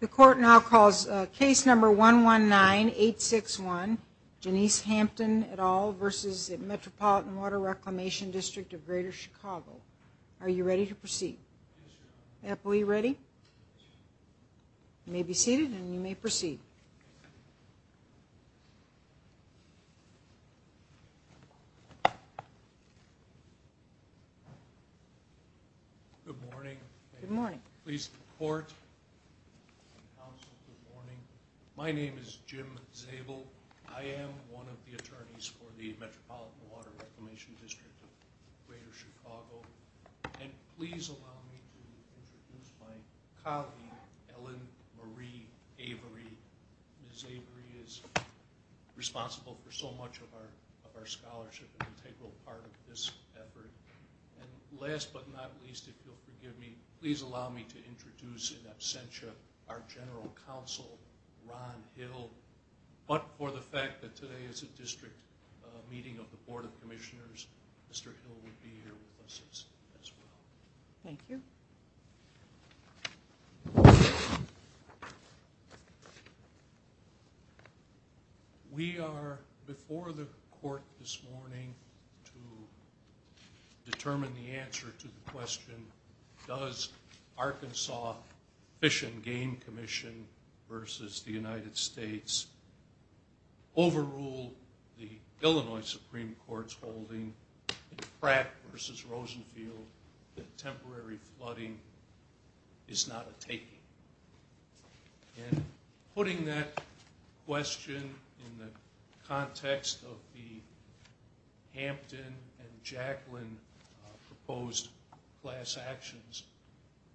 The court now calls case number 119861, Janice Hampton et al. v. Metropolitan Water Reclamation District of Greater Chicago. Are you ready to proceed? Yes, Your Honor. Apple, are you ready? You may be seated and you may proceed. Good morning. Good morning. Please, the court and counsel, good morning. My name is Jim Zabel. I am one of the attorneys for the Metropolitan Water Reclamation District of Greater Chicago. And please allow me to introduce my colleague, Ellen Marie Avery. Ms. Avery is responsible for so much of our scholarship, an integral part of this effort. And last but not least, if you'll forgive me, please allow me to introduce in absentia our general counsel, Ron Hill. But for the fact that today is a district meeting of the Board of Commissioners, Mr. Hill will be here with us as well. Thank you. We are before the court this morning to determine the answer to the question, does Arkansas Fish and Game Commission versus the United States overrule the Illinois Supreme Court's holding that Pratt versus Rosenfield, that temporary flooding is not a taking? And putting that question in the context of the Hampton and Jaclyn proposed class actions,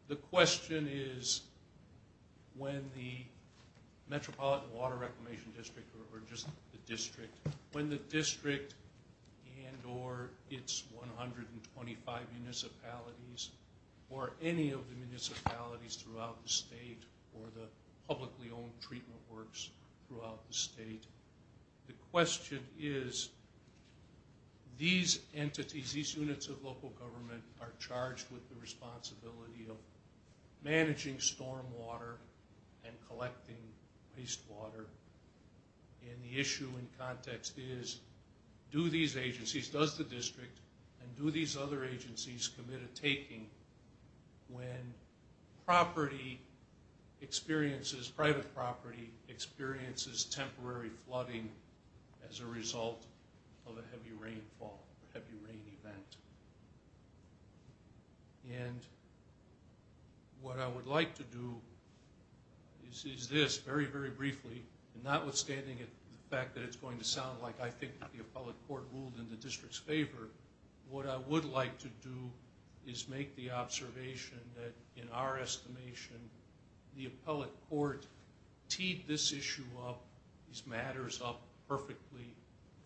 the question is when the Metropolitan Water Reclamation District or just the district, when the district and or its 125 municipalities or any of the municipalities throughout the state or the publicly owned treatment works throughout the state, the question is these entities, these units of local government are charged with the responsibility of managing storm water and collecting waste water. And the issue in context is do these agencies, does the district and do these other agencies commit a taking when property experiences, private property experiences temporary flooding as a result of a heavy rainfall, heavy rain event. And what I would like to do is this very, very briefly, notwithstanding the fact that it's going to sound like I think the appellate court ruled in the district's favor, what I would like to do is make the observation that in our estimation the appellate court teed this issue up, these matters up perfectly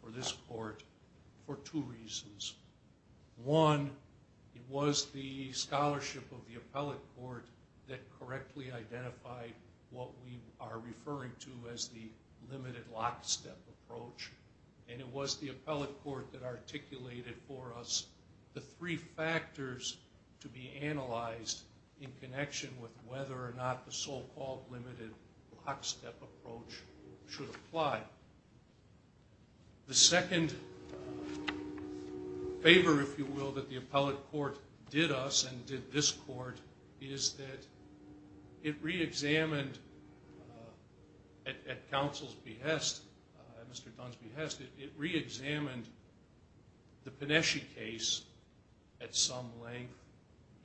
for this court for two reasons. One, it was the scholarship of the appellate court that correctly identified what we are referring to as the limited lockstep approach. And it was the appellate court that articulated for us the three factors to be analyzed in connection with whether or not the so-called limited lockstep approach should apply. The second favor, if you will, that the appellate court did us and did this court is that it reexamined at counsel's behest, at Mr. Dunsby's behest, it reexamined the Panesci case at some length.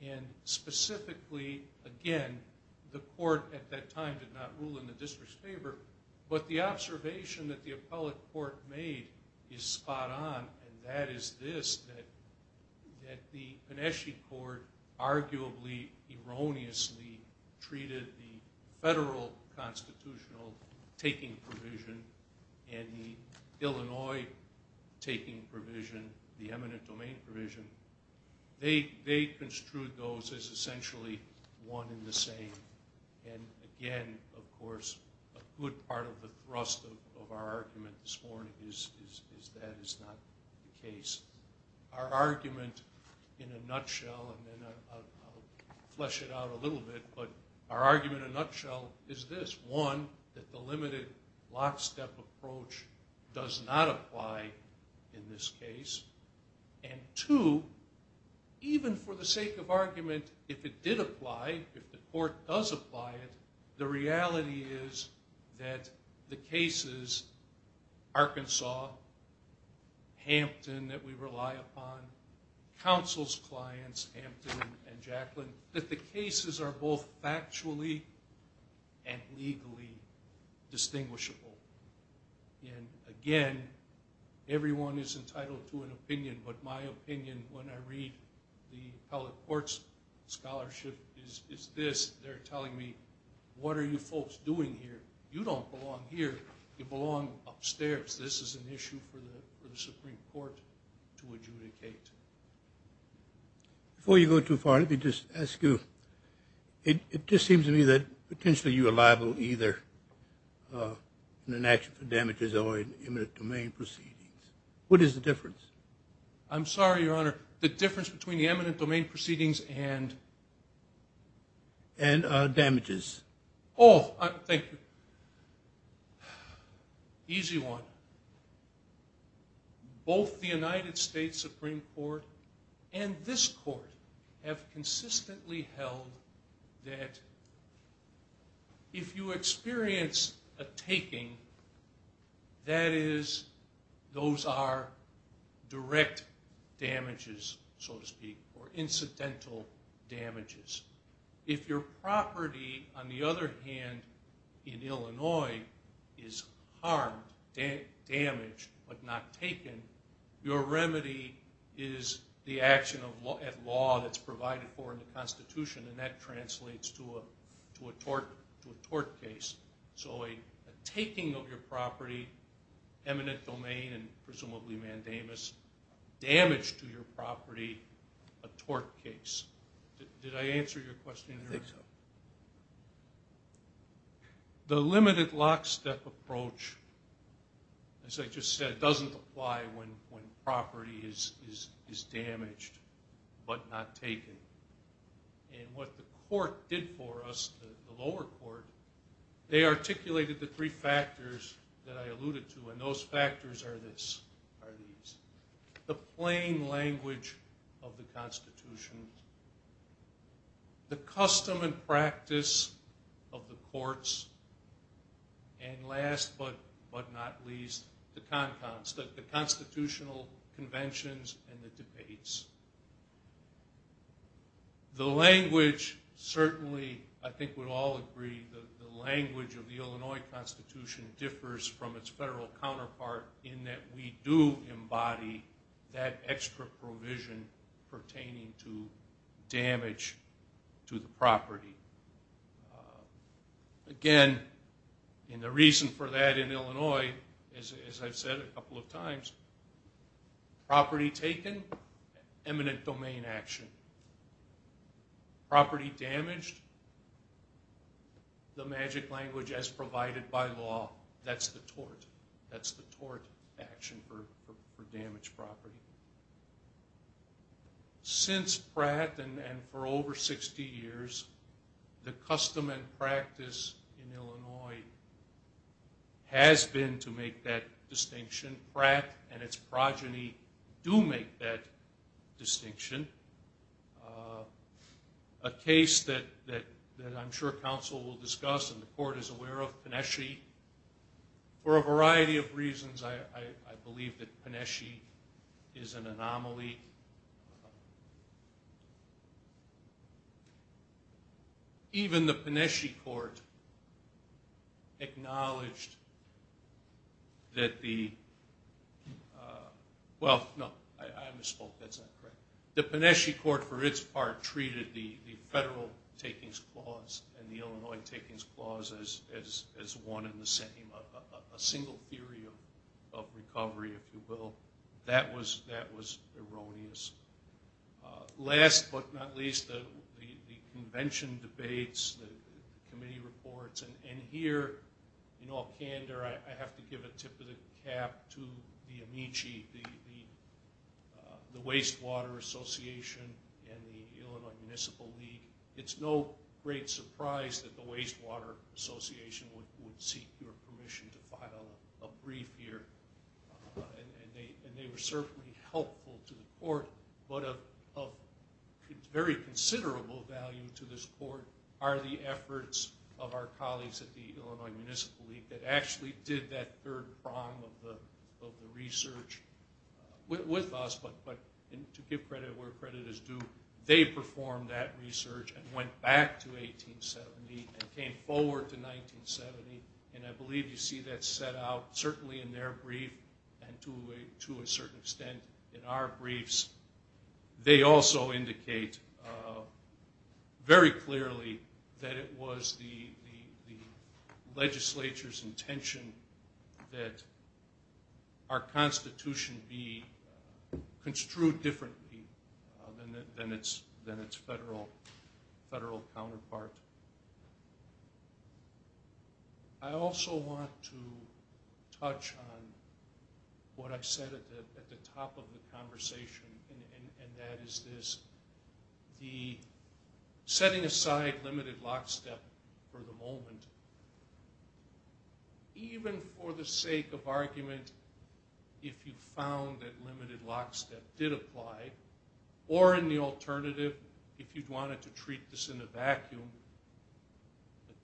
And specifically, again, the court at that time did not rule in the district's favor. But the observation that the appellate court made is spot on, and that is this, that the Panesci court arguably erroneously treated the federal constitutional taking provision and the Illinois taking provision, the eminent domain provision. They construed those as essentially one and the same. And again, of course, a good part of the thrust of our argument this morning is that is not the case. Our argument in a nutshell, and then I'll flesh it out a little bit, but our argument in a nutshell is this. One, that the limited lockstep approach does not apply in this case. And two, even for the sake of argument, if it did apply, if the court does apply it, the reality is that the cases, Arkansas, Hampton that we rely upon, counsel's clients, Hampton and Jaclyn, that the cases are both factually and legally distinguishable. And again, everyone is entitled to an opinion, but my opinion when I read the appellate court's scholarship is this. They're telling me, what are you folks doing here? You don't belong here. You belong upstairs. This is an issue for the Supreme Court to adjudicate. Before you go too far, let me just ask you. It just seems to me that potentially you are liable either in an action for damages or in eminent domain proceedings. What is the difference? I'm sorry, Your Honor. The difference between the eminent domain proceedings and damages. Oh, thank you. Easy one. Both the United States Supreme Court and this court have consistently held that if you experience a taking, that is, those are direct damages, so to speak, or incidental damages. If your property, on the other hand, in Illinois is harmed, damaged, but not taken, your remedy is the action at law that's provided for in the Constitution, and that translates to a tort case. So a taking of your property, eminent domain and presumably mandamus, damage to your property, a tort case. Did I answer your question? I think so. The limited lockstep approach, as I just said, doesn't apply when property is damaged but not taken. And what the court did for us, the lower court, they articulated the three factors that I alluded to, and those factors are these. The plain language of the Constitution, the custom and practice of the courts, and last but not least, the constitutional conventions and the debates. The language certainly, I think we'd all agree, the language of the Illinois Constitution differs from its federal counterpart in that we do embody that extra provision pertaining to damage to the property. Again, and the reason for that in Illinois, as I've said a couple of times, property taken, eminent domain action. Property damaged, the magic language as provided by law, that's the tort. That's the tort action for damaged property. Since Pratt and for over 60 years, the custom and practice in Illinois has been to make that distinction. Pratt and its progeny do make that distinction. A case that I'm sure counsel will discuss and the court is aware of, Paneshi. For a variety of reasons, I believe that Paneshi is an anomaly. Even the Paneshi court acknowledged that the, well, no, I misspoke, that's not correct. The Paneshi court for its part treated the federal takings clause and the Illinois takings clause as one and the same. A single theory of recovery, if you will. That was erroneous. Last but not least, the convention debates, the committee reports, and here in all candor, I have to give a tip of the cap to the Amici, the Wastewater Association and the Illinois Municipal League. It's no great surprise that the Wastewater Association would seek your permission to file a brief here. And they were certainly helpful to the court, but of very considerable value to this court are the efforts of our colleagues at the Illinois Municipal League that actually did that third prong of the research with us. But to give credit where credit is due, they performed that research and went back to 1870 and came forward to 1970. And I believe you see that set out certainly in their brief and to a certain extent in our briefs. They also indicate very clearly that it was the legislature's intention that our constitution be construed differently than its federal counterpart. I also want to touch on what I said at the top of the conversation, and that is this. The setting aside limited lockstep for the moment, even for the sake of argument, if you found that limited lockstep did apply, or in the alternative, if you wanted to treat this in a vacuum,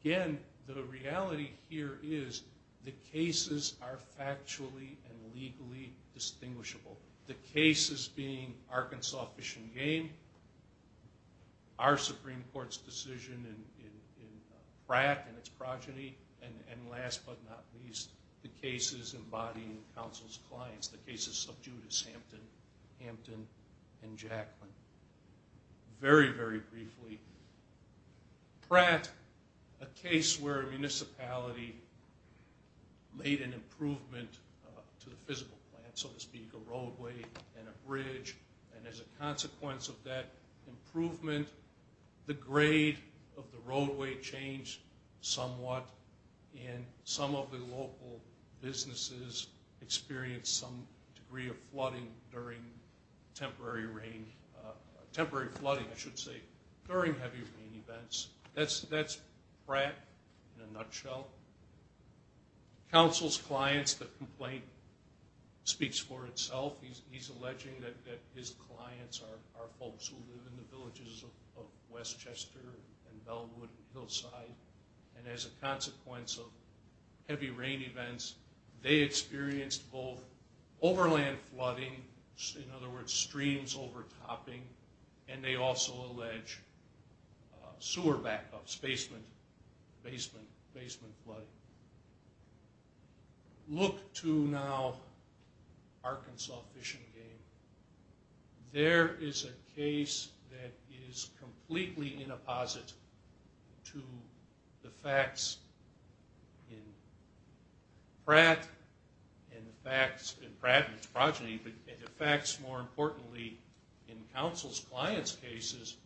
again, the reality here is the cases are factually and legally distinguishable. The cases being Arkansas Fish and Game, our Supreme Court's decision in Pratt and its progeny, and last but not least, the cases embodying counsel's clients, the cases of Judas Hampton and Jackman. Very, very briefly, Pratt, a case where a municipality made an improvement to the physical plant, so to speak, a roadway and a bridge, and as a consequence of that improvement, the grade of the roadway changed somewhat, and some of the local businesses experienced some degree of flooding during temporary rain, temporary flooding, I should say, during heavy rain events. Counsel's clients, the complaint speaks for itself. He's alleging that his clients are folks who live in the villages of Westchester and Bellwood and Hillside, and as a consequence of heavy rain events, they experienced both overland flooding, in other words, streams overtopping, and they also allege sewer backups, basement flooding. Look to now Arkansas Fish and Game. There is a case that is completely in a posit to the facts in Pratt, and the facts, more importantly, in counsel's clients' cases,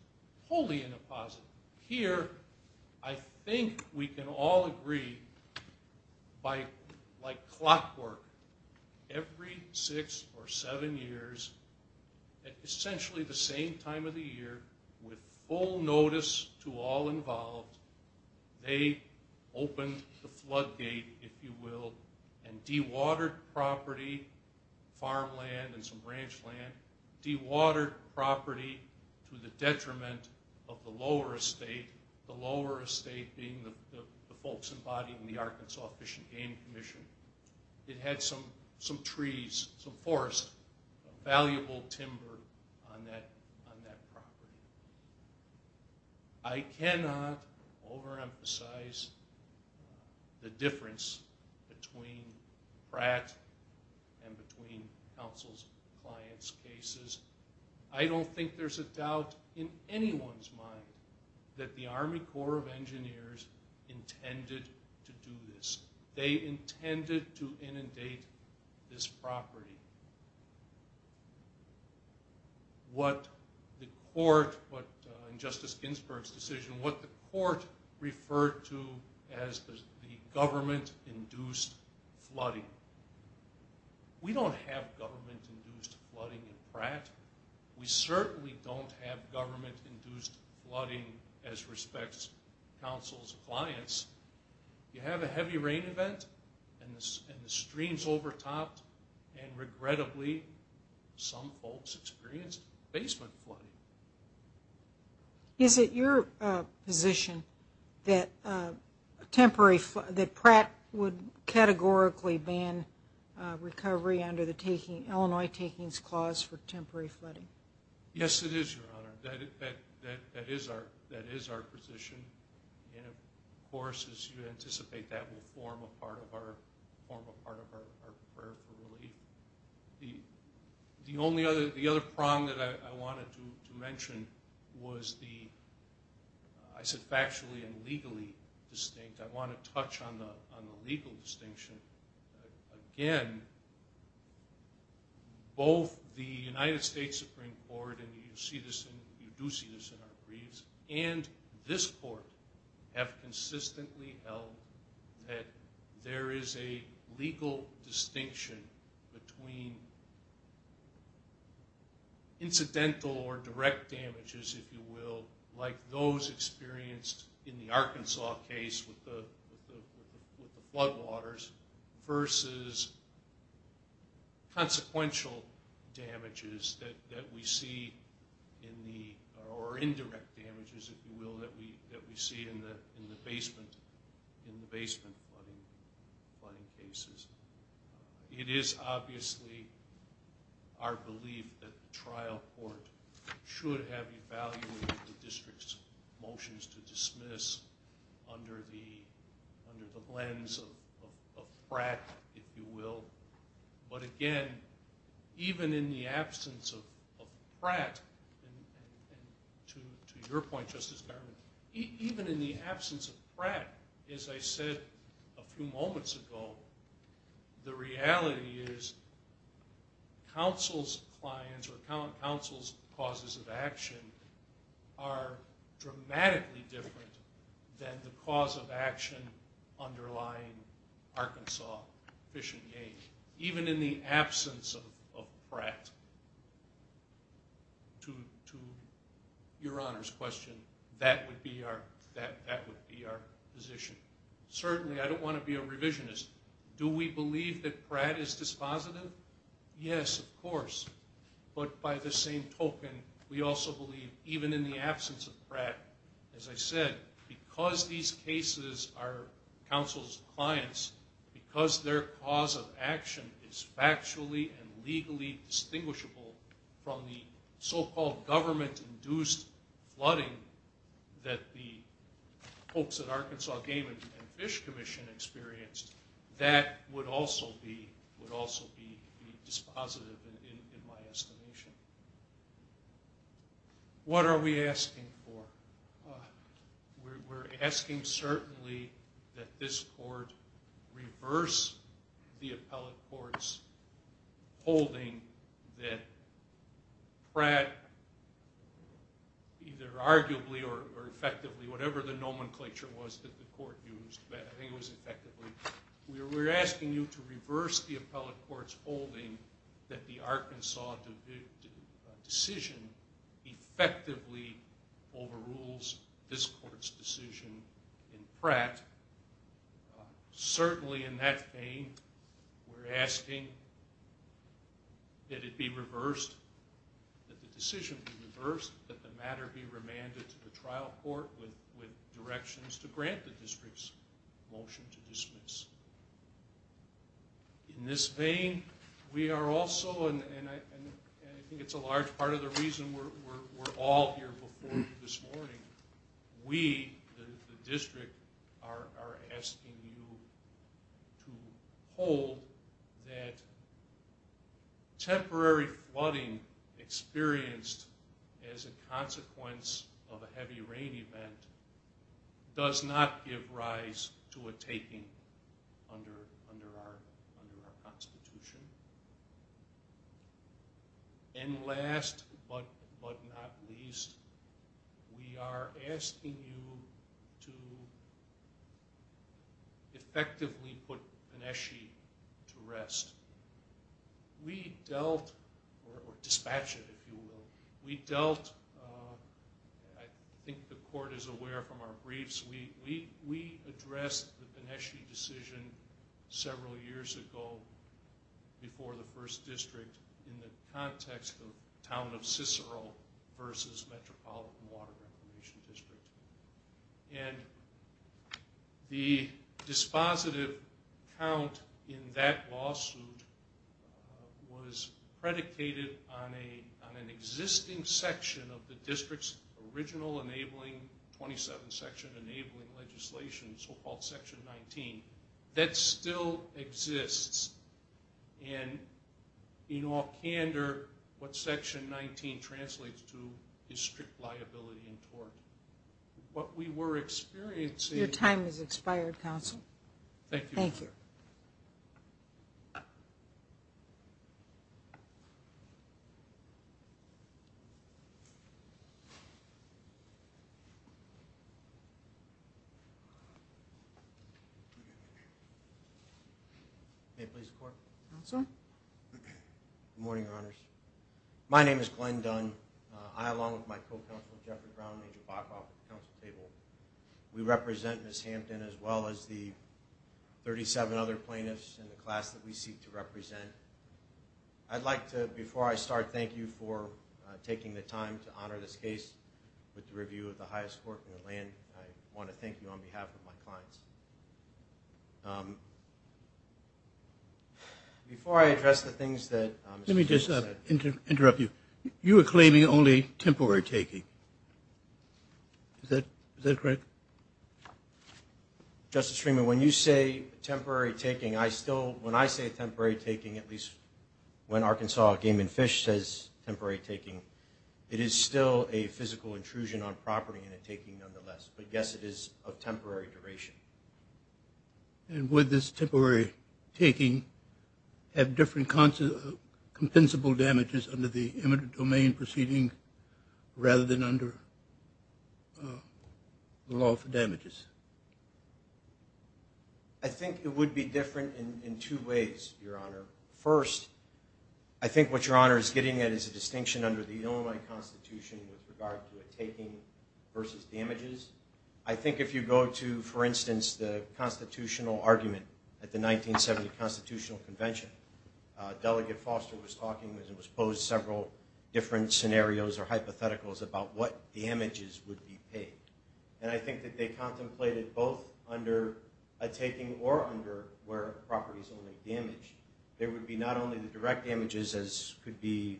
wholly in a posit. Here, I think we can all agree by, like clockwork, every six or seven years, at essentially the same time of the year, with full notice to all involved, they opened the floodgate, if you will, and dewatered property, farmland and some branch land, dewatered property to the detriment of the lower estate, the lower estate being the folks embodying the Arkansas Fish and Game Commission. It had some trees, some forest, valuable timber on that property. I cannot overemphasize the difference between Pratt and between counsel's clients' cases. I don't think there's a doubt in anyone's mind that the Army Corps of Engineers intended to do this. They intended to inundate this property. What the court, in Justice Ginsburg's decision, what the court referred to as the government-induced flooding. We don't have government-induced flooding in Pratt. We certainly don't have government-induced flooding as respects counsel's clients. You have a heavy rain event and the stream's overtopped, and regrettably some folks experienced basement flooding. Is it your position that Pratt would categorically ban recovery under the Illinois Takings Clause for temporary flooding? Yes, it is, Your Honor. That is our position. Of course, as you anticipate, that will form a part of our prayer for relief. The other prong that I wanted to mention was the, I said factually and legally distinct. I want to touch on the legal distinction. Again, both the United States Supreme Court, and you do see this in our briefs, and this court have consistently held that there is a legal distinction between incidental or direct damages, if you will, like those experienced in the Arkansas case with the floodwaters versus consequential damages that we see, or indirect damages, if you will, that we see in the basement flooding cases. It is obviously our belief that the trial court should have evaluated the district's motions to dismiss under the lens of Pratt, if you will. But again, even in the absence of Pratt, and to your point, Justice Garment, even in the absence of Pratt, as I said a few moments ago, the reality is counsel's clients or counsel's causes of action are dramatically different than the cause of action underlying Arkansas fishing aid. Even in the absence of Pratt, to your Honor's question, that would be our position. Certainly, I don't want to be a revisionist. Do we believe that Pratt is dispositive? Yes, of course. But by the same token, we also believe even in the absence of Pratt, as I said, because these cases are counsel's clients, because their cause of action is factually and legally distinguishable from the so-called government-induced flooding that the folks at Arkansas Game and Fish Commission experienced, that would also be dispositive, in my estimation. What are we asking for? We're asking certainly that this court reverse the appellate court's holding that Pratt, either arguably or effectively, whatever the nomenclature was that the court used, but I think it was effectively, we're asking you to reverse the appellate court's holding that the Arkansas decision effectively overrules this court's decision in Pratt. Certainly in that vein, we're asking that it be reversed, that the decision be reversed, that the matter be remanded to the trial court with directions to grant the district's motion to dismiss. In this vein, we are also, and I think it's a large part of the reason we're all here before you this morning, we, the district, are asking you to hold that temporary flooding experienced as a consequence of a heavy rain event does not give rise to a taking under our Constitution. And last but not least, we are asking you to effectively put Pineschi to rest. We dealt, or dispatched it if you will, we dealt, I think the court is aware from our briefs, we addressed the Pineschi decision several years ago before the first district in the context of the town of Cicero versus Metropolitan Water Reclamation District. And the dispositive count in that lawsuit was predicated on an existing section of the district's original enabling 27 section enabling legislation, so-called Section 19, that still exists. And in all candor, what Section 19 translates to is strict liability and tort. What we were experiencing... Your time has expired, counsel. Thank you. Thank you. Thank you. May it please the court. Counsel. Good morning, your honors. My name is Glenn Dunn. I, along with my co-counsel, Jeffrey Brown, and Angel Bachoff at the counsel table, we represent Ms. Hampton as well as the 37 other plaintiffs in the class that we seek to represent. I'd like to, before I start, thank you for taking the time to honor this case with the review of the highest court in the land. I want to thank you on behalf of my clients. Before I address the things that... Let me just interrupt you. You are claiming only temporary taking. Is that correct? Justice Freeman, when you say temporary taking, I still... When I say temporary taking, at least when Arkansas Game and Fish says temporary taking, it is still a physical intrusion on property and a taking, nonetheless. But, yes, it is of temporary duration. And would this temporary taking have different compensable damages under the domain proceeding rather than under the law for damages? I think it would be different in two ways, your honor. First, I think what your honor is getting at is a distinction under the Illinois Constitution with regard to a taking versus damages. I think if you go to, for instance, the constitutional argument at the 1970 Constitutional Convention, Delegate Foster was talking and it was posed several different scenarios or hypotheticals about what damages would be paid. And I think that they contemplated both under a taking or under where property is only damaged. There would be not only the direct damages as could be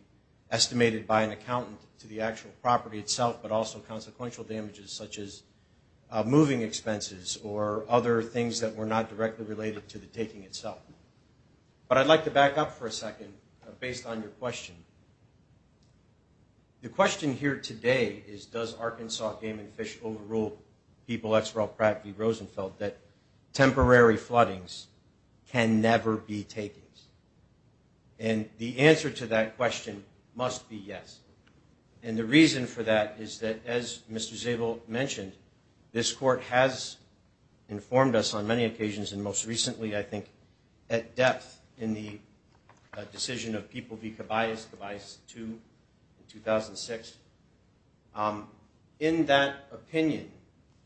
estimated by an accountant to the actual property itself, but also consequential damages such as moving expenses or other things that were not directly related to the taking itself. But I'd like to back up for a second based on your question. The question here today is does Arkansas Game and Fish overrule people, that's Ralph Pratt v. Rosenfeld, that temporary floodings can never be takings? And the answer to that question must be yes. And the reason for that is that, as Mr. Zabel mentioned, this court has informed us on many occasions and most recently I think at depth in the decision of People v. Cabayas, Cabayas 2 in 2006. In that opinion,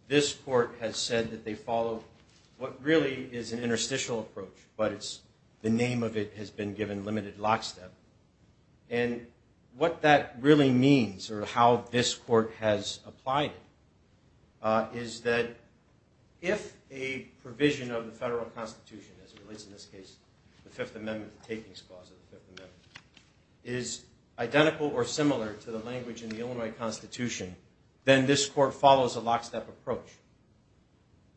this court has said that they follow what really is an interstitial approach, but the name of it has been given limited lockstep. And what that really means or how this court has applied it is that if a provision of the Federal Constitution, as it relates in this case to the Fifth Amendment, the takings clause of the Fifth Amendment, is identical or similar to the language in the Illinois Constitution, then this court follows a lockstep approach.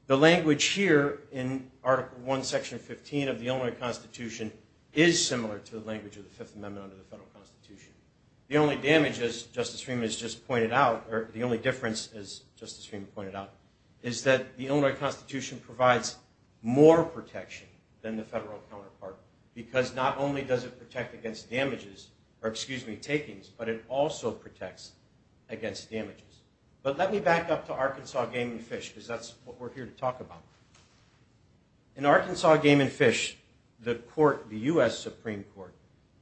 The language here in Article I, Section 15 of the Illinois Constitution is similar to the language of the Fifth Amendment under the Federal Constitution. The only damage, as Justice Freeman has just pointed out, or the only difference, as Justice Freeman pointed out, is that the Illinois Constitution provides more protection than the Federal counterpart because not only does it protect against damages, or excuse me, takings, but it also protects against damages. But let me back up to Arkansas Game and Fish because that's what we're here to talk about. In Arkansas Game and Fish, the court, the U.S. Supreme Court,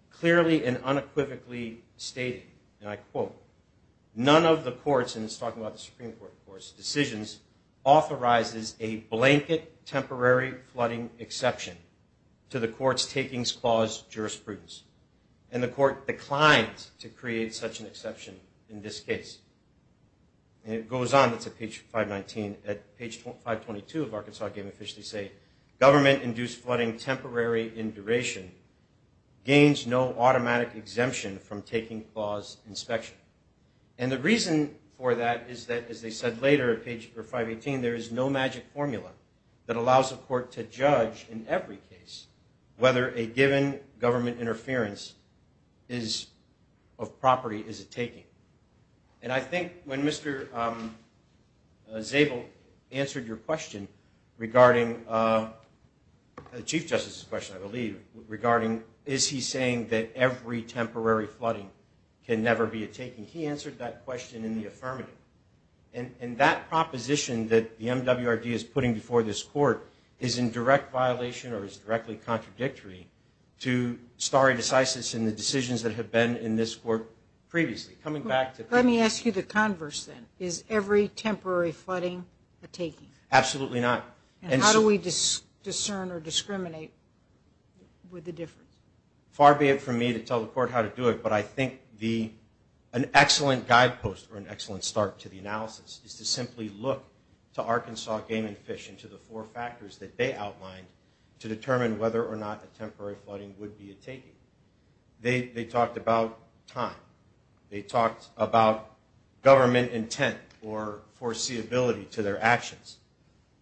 clearly and unequivocally stated, and I quote, none of the court's, and it's talking about the Supreme Court, of course, decisions authorizes a blanket temporary flooding exception to the court's takings clause jurisprudence. And the court declined to create such an exception in this case. And it goes on, it's at page 519, at page 522 of Arkansas Game and Fish, they say, government-induced flooding temporary in duration gains no automatic exemption from taking clause inspection. And the reason for that is that, as they said later at page 518, there is no magic formula that allows a court to judge in every case whether a given government interference of property is a taking. And I think when Mr. Zabel answered your question regarding, Chief Justice's question, I believe, regarding, is he saying that every temporary flooding can never be a taking, he answered that question in the affirmative. And that proposition that the MWRD is putting before this court is in direct violation or is directly contradictory to stare decisis and the decisions that have been in this court previously. Coming back to... Let me ask you the converse then. Is every temporary flooding a taking? Absolutely not. And how do we discern or discriminate with the difference? Far be it from me to tell the court how to do it, but I think an excellent guidepost or an excellent start to the analysis is to simply look to Arkansas Game and Fish and to the four factors that they outlined to determine whether or not a temporary flooding would be a taking. They talked about time. They talked about government intent or foreseeability to their actions.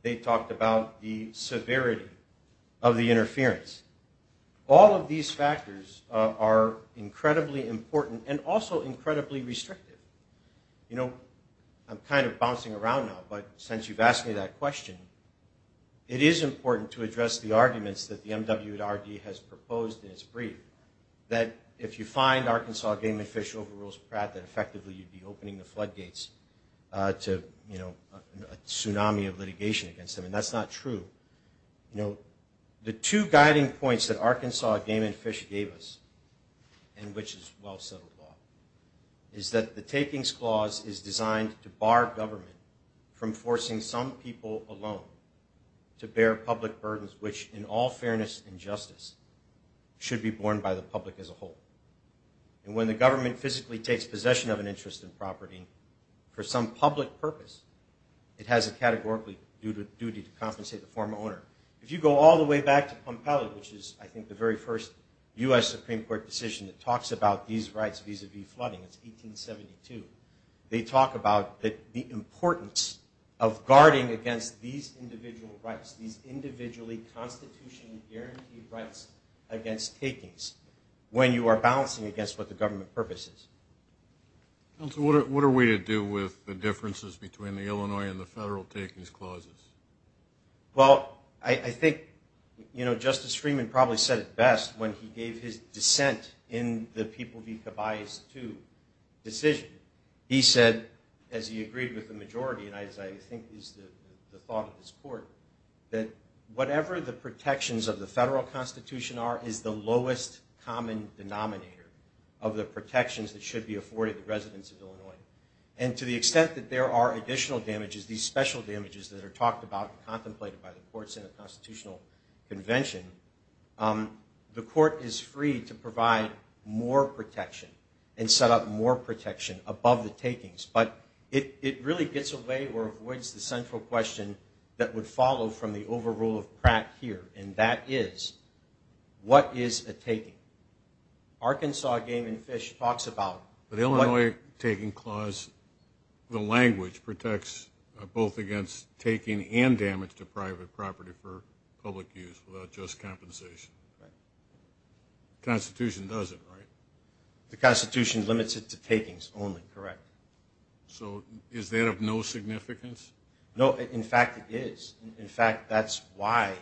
They talked about the severity of the interference. All of these factors are incredibly important and also incredibly restrictive. You know, I'm kind of bouncing around now, but since you've asked me that question, it is important to address the arguments that the MWRD has proposed in its brief, that if you find Arkansas Game and Fish over Rose Pratt, that effectively you'd be opening the floodgates to, you know, a tsunami of litigation against them. And that's not true. You know, the two guiding points that Arkansas Game and Fish gave us, and which is well settled law, is that the takings clause is designed to bar government from forcing some people alone to bear public burdens, which, in all fairness and justice, should be borne by the public as a whole. And when the government physically takes possession of an interest in property for some public purpose, it has a categorical duty to compensate the former owner. If you go all the way back to Pompeli, which is, I think, the very first U.S. Supreme Court decision that talks about these rights vis-a-vis flooding, it's 1872, they talk about the importance of guarding against these individual rights, these individually constitutionally guaranteed rights against takings, when you are balancing against what the government purpose is. Counsel, what are we to do with the differences between the Illinois and the federal takings clauses? Well, I think, you know, Justice Freeman probably said it best when he gave his dissent in the People v. Caballos II decision. He said, as he agreed with the majority, and as I think is the thought of this court, that whatever the protections of the federal constitution are is the lowest common denominator of the protections that should be afforded the residents of Illinois. And to the extent that there are additional damages, these special damages that are talked about and contemplated by the courts in a constitutional convention, the court is free to provide more protection and set up more protection above the takings. But it really gets away or avoids the central question that would follow from the overrule of Pratt here, and that is, what is a taking? Arkansas Game and Fish talks about... The Illinois taking clause, the language, protects both against taking and damage to private property for public use without just compensation. The Constitution doesn't, right? The Constitution limits it to takings only, correct. So is that of no significance? No, in fact, it is. In fact, that's why,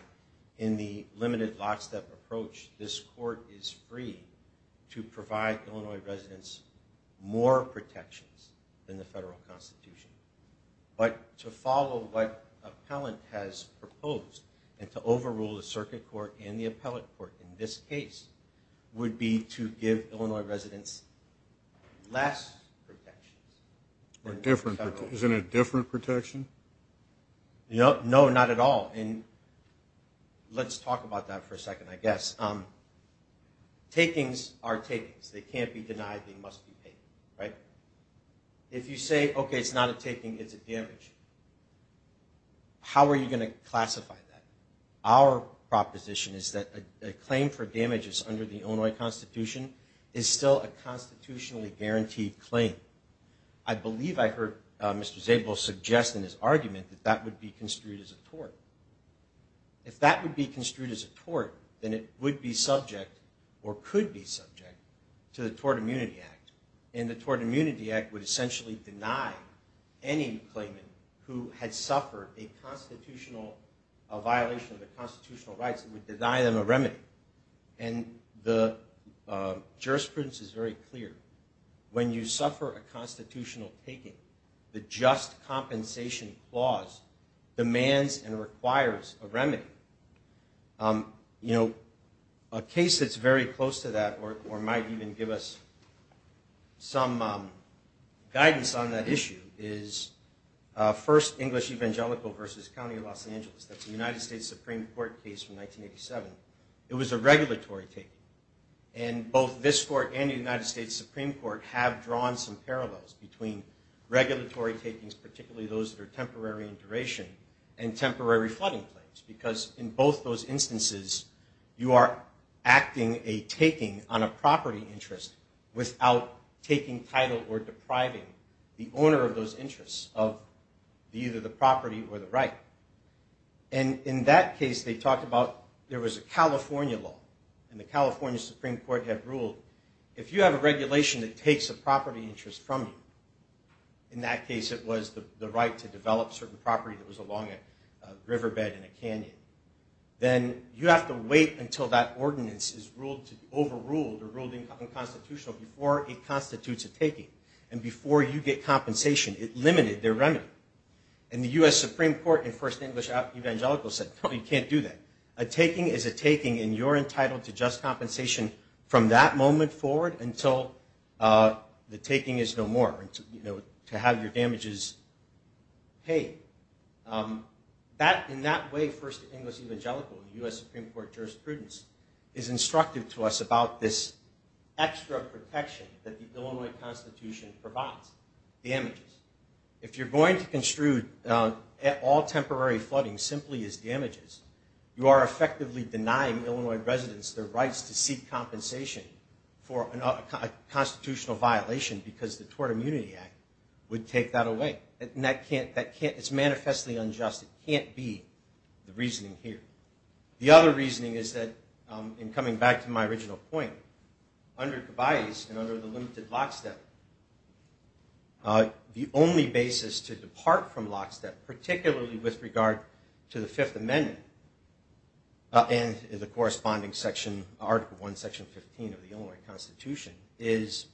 in the limited lockstep approach, this court is free to provide Illinois residents more protections than the federal constitution. But to follow what appellant has proposed and to overrule the circuit court and the appellate court in this case would be to give Illinois residents less protections than the federal. Is it a different protection? No, not at all. And let's talk about that for a second, I guess. Takings are takings. They can't be denied, they must be paid, right? If you say, okay, it's not a taking, it's a damage, how are you going to classify that? Our proposition is that a claim for damages under the Illinois Constitution is still a constitutionally guaranteed claim. I believe I heard Mr. Zabel suggest in his argument that that would be construed as a tort. If that would be construed as a tort, then it would be subject or could be subject to the Tort Immunity Act. And the Tort Immunity Act would essentially deny any claimant who had suffered a constitutional, a violation of the constitutional rights, it would deny them a remedy. And the jurisprudence is very clear. When you suffer a constitutional taking, the just compensation clause demands and requires a remedy. You know, a case that's very close to that or might even give us some guidance on that issue is First English Evangelical versus County of Los Angeles. That's a United States Supreme Court case from 1987. It was a regulatory taking. And both this court and the United States Supreme Court have drawn some parallels between regulatory takings, particularly those that are temporary in duration, and temporary flooding claims. Because in both those instances, you are acting a taking on a property interest without taking title or depriving the owner of those interests of either the property or the right. And in that case, they talked about, there was a California law, and the California Supreme Court had ruled, if you have a regulation that takes a property interest from you, in that case it was the right to develop certain property that was along a riverbed in a canyon, then you have to wait until that ordinance is overruled or ruled unconstitutional before it constitutes a taking. And before you get compensation, it limited their remedy. And the U.S. Supreme Court in First English Evangelical said, no, you can't do that. A taking is a taking, and you're entitled to just compensation from that moment forward until the taking is no more, to have your damages paid. In that way, First English Evangelical, U.S. Supreme Court jurisprudence, is instructive to us about this extra protection that the Illinois Constitution provides, damages. If you're going to construe all temporary flooding simply as damages, you are effectively denying Illinois residents their rights to seek compensation for a constitutional violation because the Tort Immunity Act would take that away. It's manifestly unjust. It can't be the reasoning here. The other reasoning is that, in coming back to my original point, under Kibayes and under the limited lockstep, the only basis to depart from lockstep, particularly with regard to the Fifth Amendment and the corresponding section, Article I, Section 15 of the Illinois Constitution, is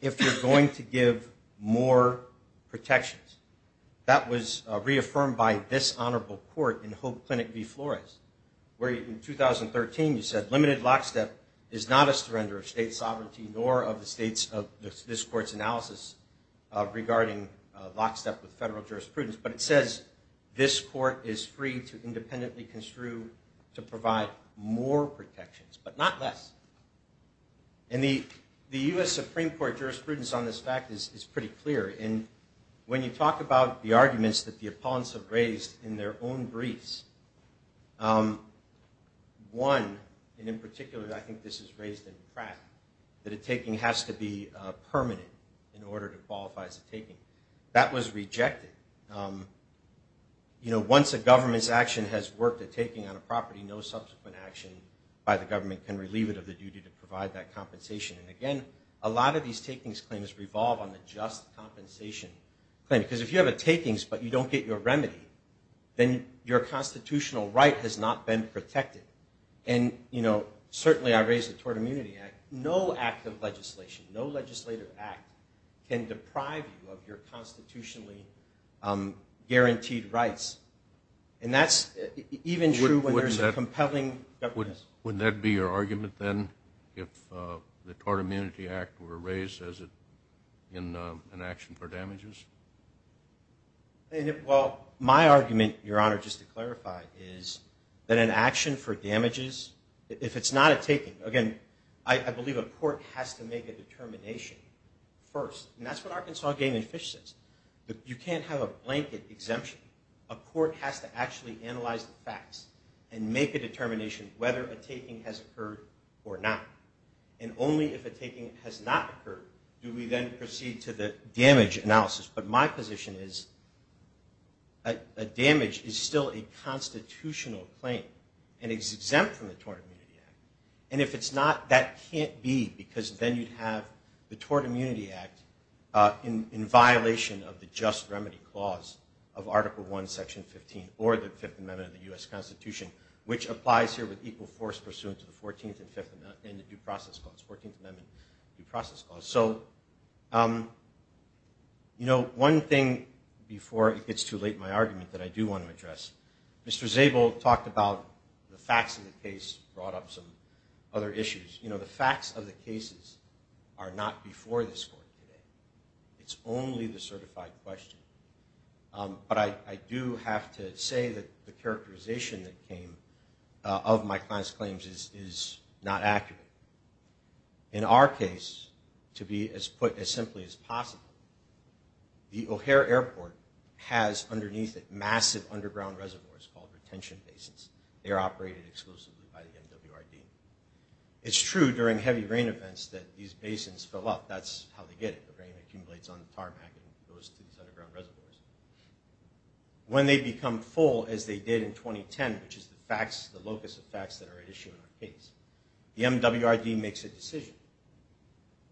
if you're going to give more protections. That was reaffirmed by this honorable court in Hope Clinic v. Flores, where, in 2013, you said, limited lockstep is not a surrender of state sovereignty nor of the states of this court's analysis regarding lockstep with federal jurisprudence, but it says this court is free to independently construe to provide more protections, but not less. And the U.S. Supreme Court jurisprudence on this fact is pretty clear, and when you talk about the arguments that the opponents have raised in their own briefs, one, and in particular I think this is raised in Pratt, that a taking has to be permanent in order to qualify as a taking. That was rejected. Once a government's action has worked a taking on a property, no subsequent action by the government can relieve it of the duty to provide that compensation. And again, a lot of these takings claims revolve on the just compensation claim, because if you have a takings but you don't get your remedy, then your constitutional right has not been protected. And certainly I raised the Tort Immunity Act. No act of legislation, no legislative act, can deprive you of your constitutionally guaranteed rights. And that's even true when there's a compelling... Would that be your argument then, if the Tort Immunity Act were raised as an action for damages? Well, my argument, Your Honor, just to clarify, is that an action for damages, if it's not a taking, again, I believe a court has to make a determination first. And that's what Arkansas Game and Fish says. You can't have a blanket exemption. A court has to actually analyze the facts and make a determination whether a taking has occurred or not. And only if a taking has not occurred do we then proceed to the damage analysis. But my position is a damage is still a constitutional claim and is exempt from the Tort Immunity Act. And if it's not, that can't be, because then you'd have the Tort Immunity Act in violation of the Just Remedy Clause of Article I, Section 15, or the Fifth Amendment of the U.S. Constitution, which applies here with equal force pursuant to the Fourteenth and the Due Process Clause. Fourteenth Amendment, Due Process Clause. So, you know, one thing before it gets too late, my argument that I do want to address. Mr. Zabel talked about the facts of the case, brought up some other issues. You know, the facts of the cases are not before this court today. It's only the certified question. But I do have to say that the characterization that came of my client's claims is not accurate. In our case, to be as put as simply as possible, the O'Hare Airport has underneath it massive underground reservoirs called retention bases. They are operated exclusively by the MWRD. It's true during heavy rain events that these basins fill up. That's how they get it, the rain accumulates on the tarmac and goes to these underground reservoirs. When they become full, as they did in 2010, which is the locus of facts that are at issue in our case, the MWRD makes a decision.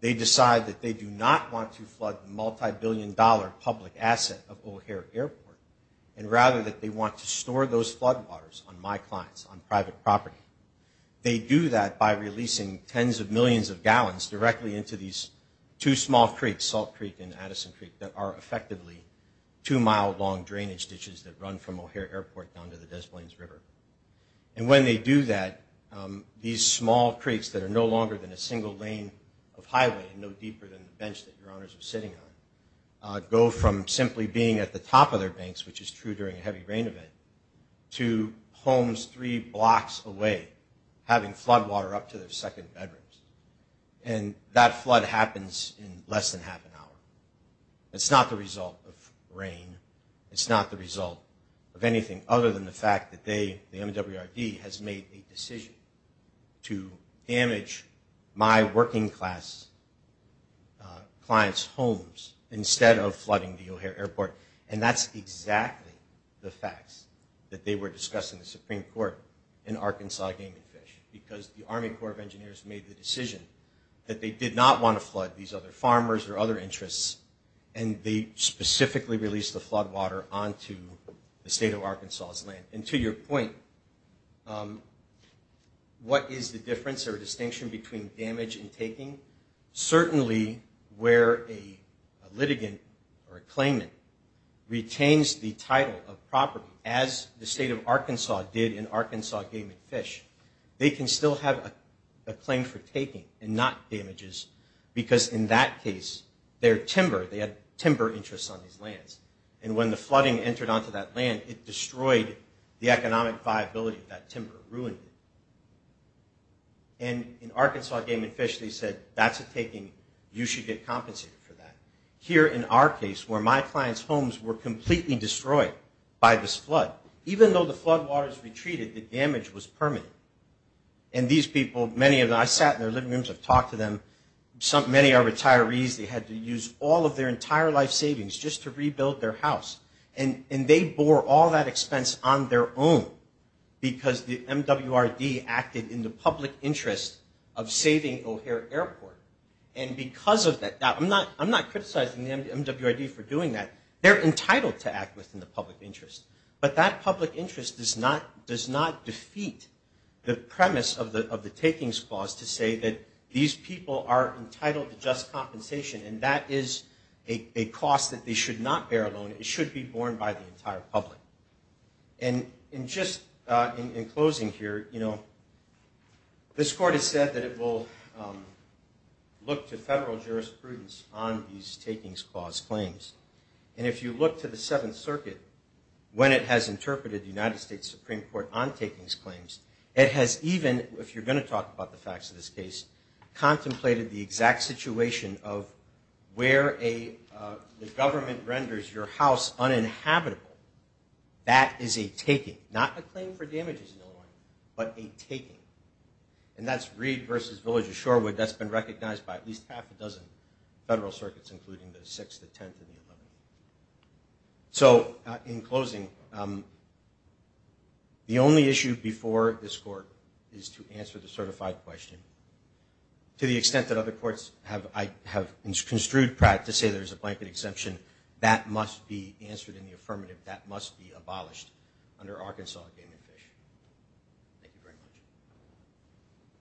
They decide that they do not want to flood the multibillion-dollar public asset of O'Hare Airport, and rather that they want to store those floodwaters on my clients, on private property. They do that by releasing tens of millions of gallons directly into these two small creeks, Salt Creek and Addison Creek, that are effectively two-mile-long drainage ditches that run from O'Hare Airport down to the Des Moines River. And when they do that, these small creeks that are no longer than a single lane of highway, no deeper than the bench that Your Honors are sitting on, go from simply being at the top of their banks, which is true during a heavy rain event, to homes three blocks away having floodwater up to their second bedrooms. And that flood happens in less than half an hour. It's not the result of rain. It's not the result of anything other than the fact that they, the MWRD, has made a decision to damage my working-class clients' homes instead of flooding the O'Hare Airport. And that's exactly the facts that they were discussing in the Supreme Court in Arkansas gaming fish, because the Army Corps of Engineers made the decision that they did not want to flood these other farmers or other interests, and they specifically released the floodwater onto the state of Arkansas' land. what is the difference or distinction between damage and taking? Certainly, where a litigant or a claimant retains the title of property, as the state of Arkansas did in Arkansas gaming fish, they can still have a claim for taking and not damages, because in that case, their timber, they had timber interests on these lands, and when the flooding entered onto that land, it destroyed the economic viability of that timber, ruined it. And in Arkansas gaming fish, they said, that's a taking, you should get compensated for that. Here in our case, where my clients' homes were completely destroyed by this flood, even though the floodwaters retreated, the damage was permanent. And these people, many of them, I sat in their living rooms, I've talked to them, many are retirees, they had to use all of their entire life savings just to rebuild their house. And they bore all that expense on their own, because the MWRD acted in the public interest of saving O'Hare Airport. And because of that, I'm not criticizing the MWRD for doing that, they're entitled to act within the public interest. But that public interest does not defeat the premise of the takings clause to say that these people are entitled to just compensation, and that is a cost that they should not bear alone, it should be borne by the entire public. And just in closing here, this court has said that it will look to federal jurisprudence on these takings clause claims. And if you look to the Seventh Circuit, when it has interpreted the United States Supreme Court on takings claims, it has even, if you're going to talk about the facts of this case, contemplated the exact situation of where the government renders your house uninhabitable. That is a taking, not a claim for damages in Illinois, but a taking. And that's Reed versus Village of Shorewood, that's been recognized by at least half a dozen federal circuits, including the Sixth, the Tenth, and the Eleventh. So in closing, the only issue before this court is to answer the certified question. To the extent that other courts have construed practice, not to say there's a blanket exemption, that must be answered in the affirmative, that must be abolished under Arkansas Game and Fish. Thank you very much.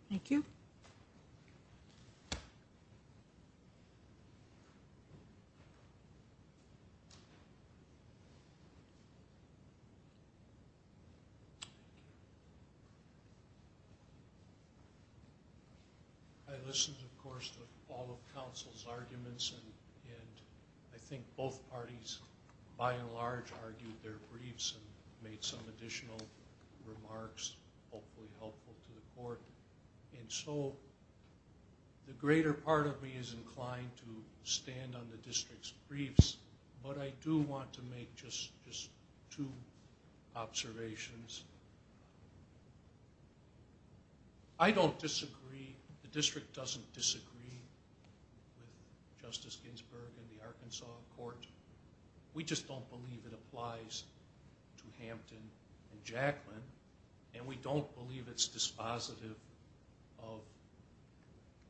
Thank you. I listened, of course, to all of counsel's arguments, and I think both parties, by and large, argued their briefs and made some additional remarks, hopefully helpful to the court. And so the greater part of me is inclined to stand on the district's briefs, but I do want to make just two observations. I don't disagree. The district doesn't disagree with Justice Ginsburg and the Arkansas court. We just don't believe it applies to Hampton and Jaclyn, and we don't believe it's dispositive of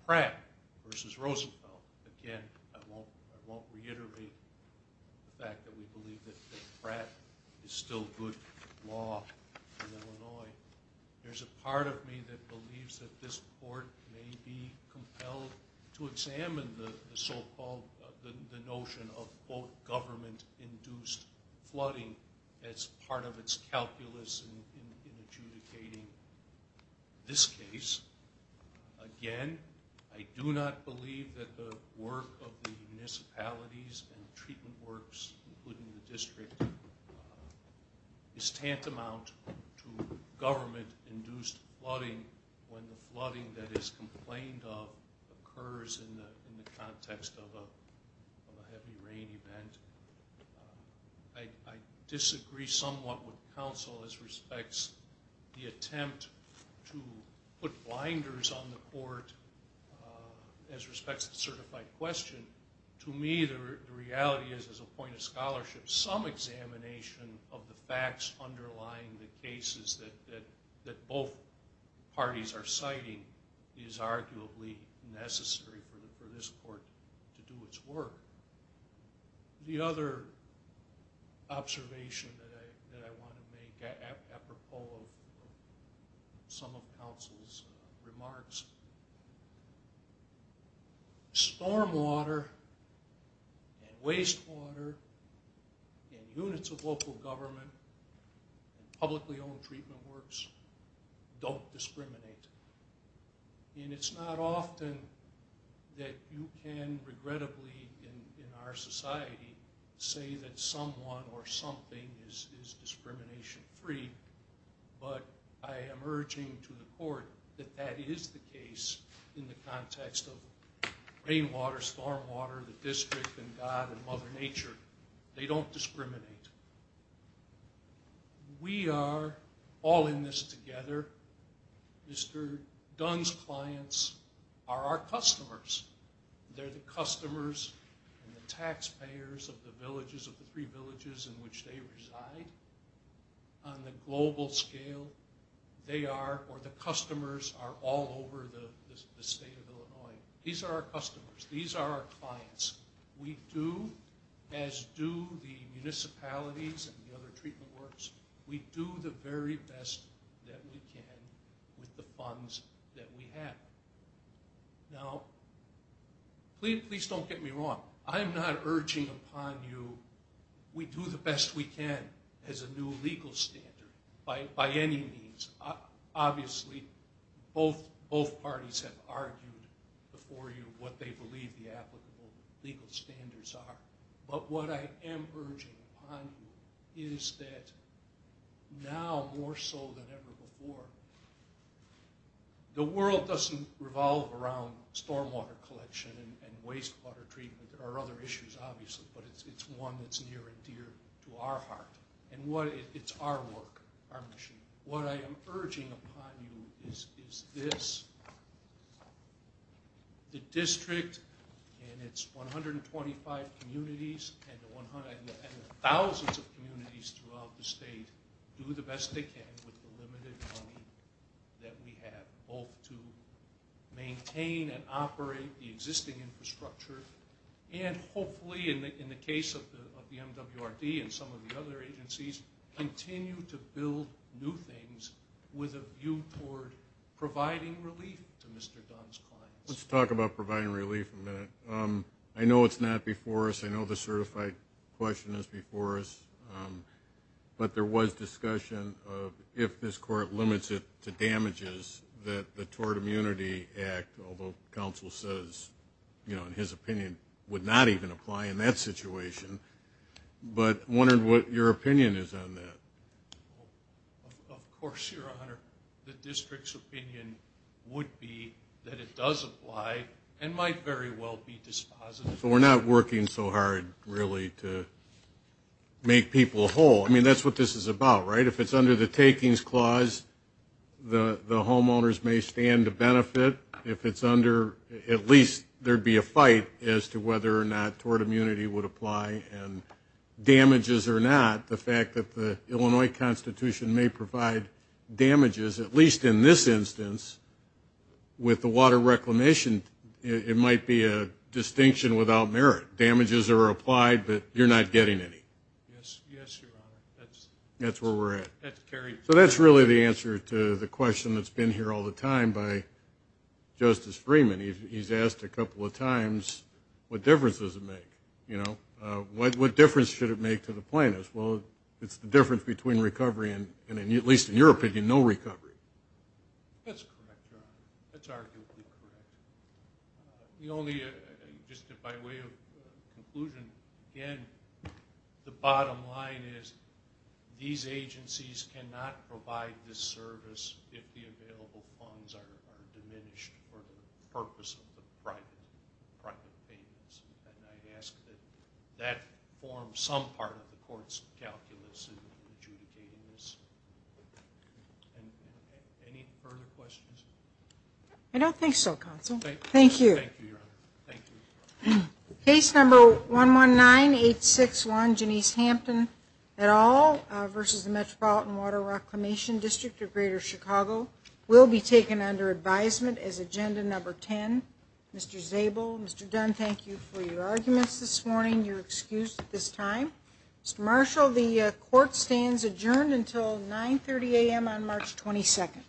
Pratt versus Roosevelt. Again, I won't reiterate the fact that we believe that Pratt is still good law in Illinois. There's a part of me that believes that this court may be compelled as part of its calculus in adjudicating this case. Again, I do not believe that the work of the municipalities and treatment works, including the district, is tantamount to government-induced flooding when the flooding that is complained of occurs in the context of a heavy rain event. I disagree somewhat with counsel as respects the attempt to put blinders on the court as respects to the certified question. To me, the reality is, as a point of scholarship, some examination of the facts underlying the cases that both parties are citing is arguably necessary for this court to do its work. The other observation that I want to make, apropos of some of counsel's remarks, stormwater and wastewater and units of local government and publicly owned treatment works don't discriminate. It's not often that you can, regrettably in our society, say that someone or something is discrimination-free, but I am urging to the court that that is the case in the context of rainwater, stormwater, the district and God and Mother Nature. They don't discriminate. We are all in this together. Mr. Dunn's clients are our customers. They're the customers and the taxpayers of the villages, of the three villages in which they reside. On the global scale, they are, or the customers, are all over the state of Illinois. These are our customers. These are our clients. We do, as do the municipalities and the other treatment works, we do the very best that we can with the funds that we have. Now, please don't get me wrong. I'm not urging upon you, we do the best we can as a new legal standard by any means. Obviously, both parties have argued before you what they believe the applicable legal standards are. But what I am urging upon you is that now more so than ever before, the world doesn't revolve around stormwater collection and wastewater treatment. There are other issues, obviously, but it's one that's near and dear to our heart. It's our work, our mission. What I am urging upon you is this. The district and its 125 communities and thousands of communities throughout the state do the best they can with the limited money that we have, both to maintain and operate the existing infrastructure, and hopefully, in the case of the MWRD and some of the other agencies, continue to build new things with a view toward providing relief to Mr. Dunn's clients. Let's talk about providing relief in a minute. I know it's not before us. I know the certified question is before us. But there was discussion of if this court limits it to damages that the Tort Immunity Act, although counsel says, you know, in his opinion, would not even apply in that situation, but I'm wondering what your opinion is on that. Of course, Your Honor. The district's opinion would be that it does apply and might very well be dispositive. So we're not working so hard, really, to make people whole. I mean, that's what this is about, right? If it's under the takings clause, the homeowners may stand to benefit. If it's under, at least there'd be a fight as to whether or not tort immunity would apply, and damages or not, the fact that the Illinois Constitution may provide damages, at least in this instance, with the water reclamation, it might be a distinction without merit. Damages are applied, but you're not getting any. Yes, Your Honor. That's where we're at. That's carried. Justice Freeman, he's asked a couple of times what difference does it make, you know? What difference should it make to the plaintiffs? Well, it's the difference between recovery and, at least in your opinion, no recovery. That's correct, Your Honor. That's arguably correct. The only, just by way of conclusion, again, the bottom line is these agencies cannot provide this service if the available funds are diminished for the purpose of the private payments. And I ask that that form some part of the court's calculus in adjudicating this. Any further questions? I don't think so, Counsel. Thank you. Thank you, Your Honor. Thank you. Case number 119861, Janice Hampton et al. versus the Metropolitan Water Reclamation District of Greater Chicago will be taken under advisement as agenda number 10. Mr. Zabel, Mr. Dunn, thank you for your arguments this morning. You're excused at this time. Mr. Marshall, the court stands adjourned until 9.30 a.m. on March 22nd.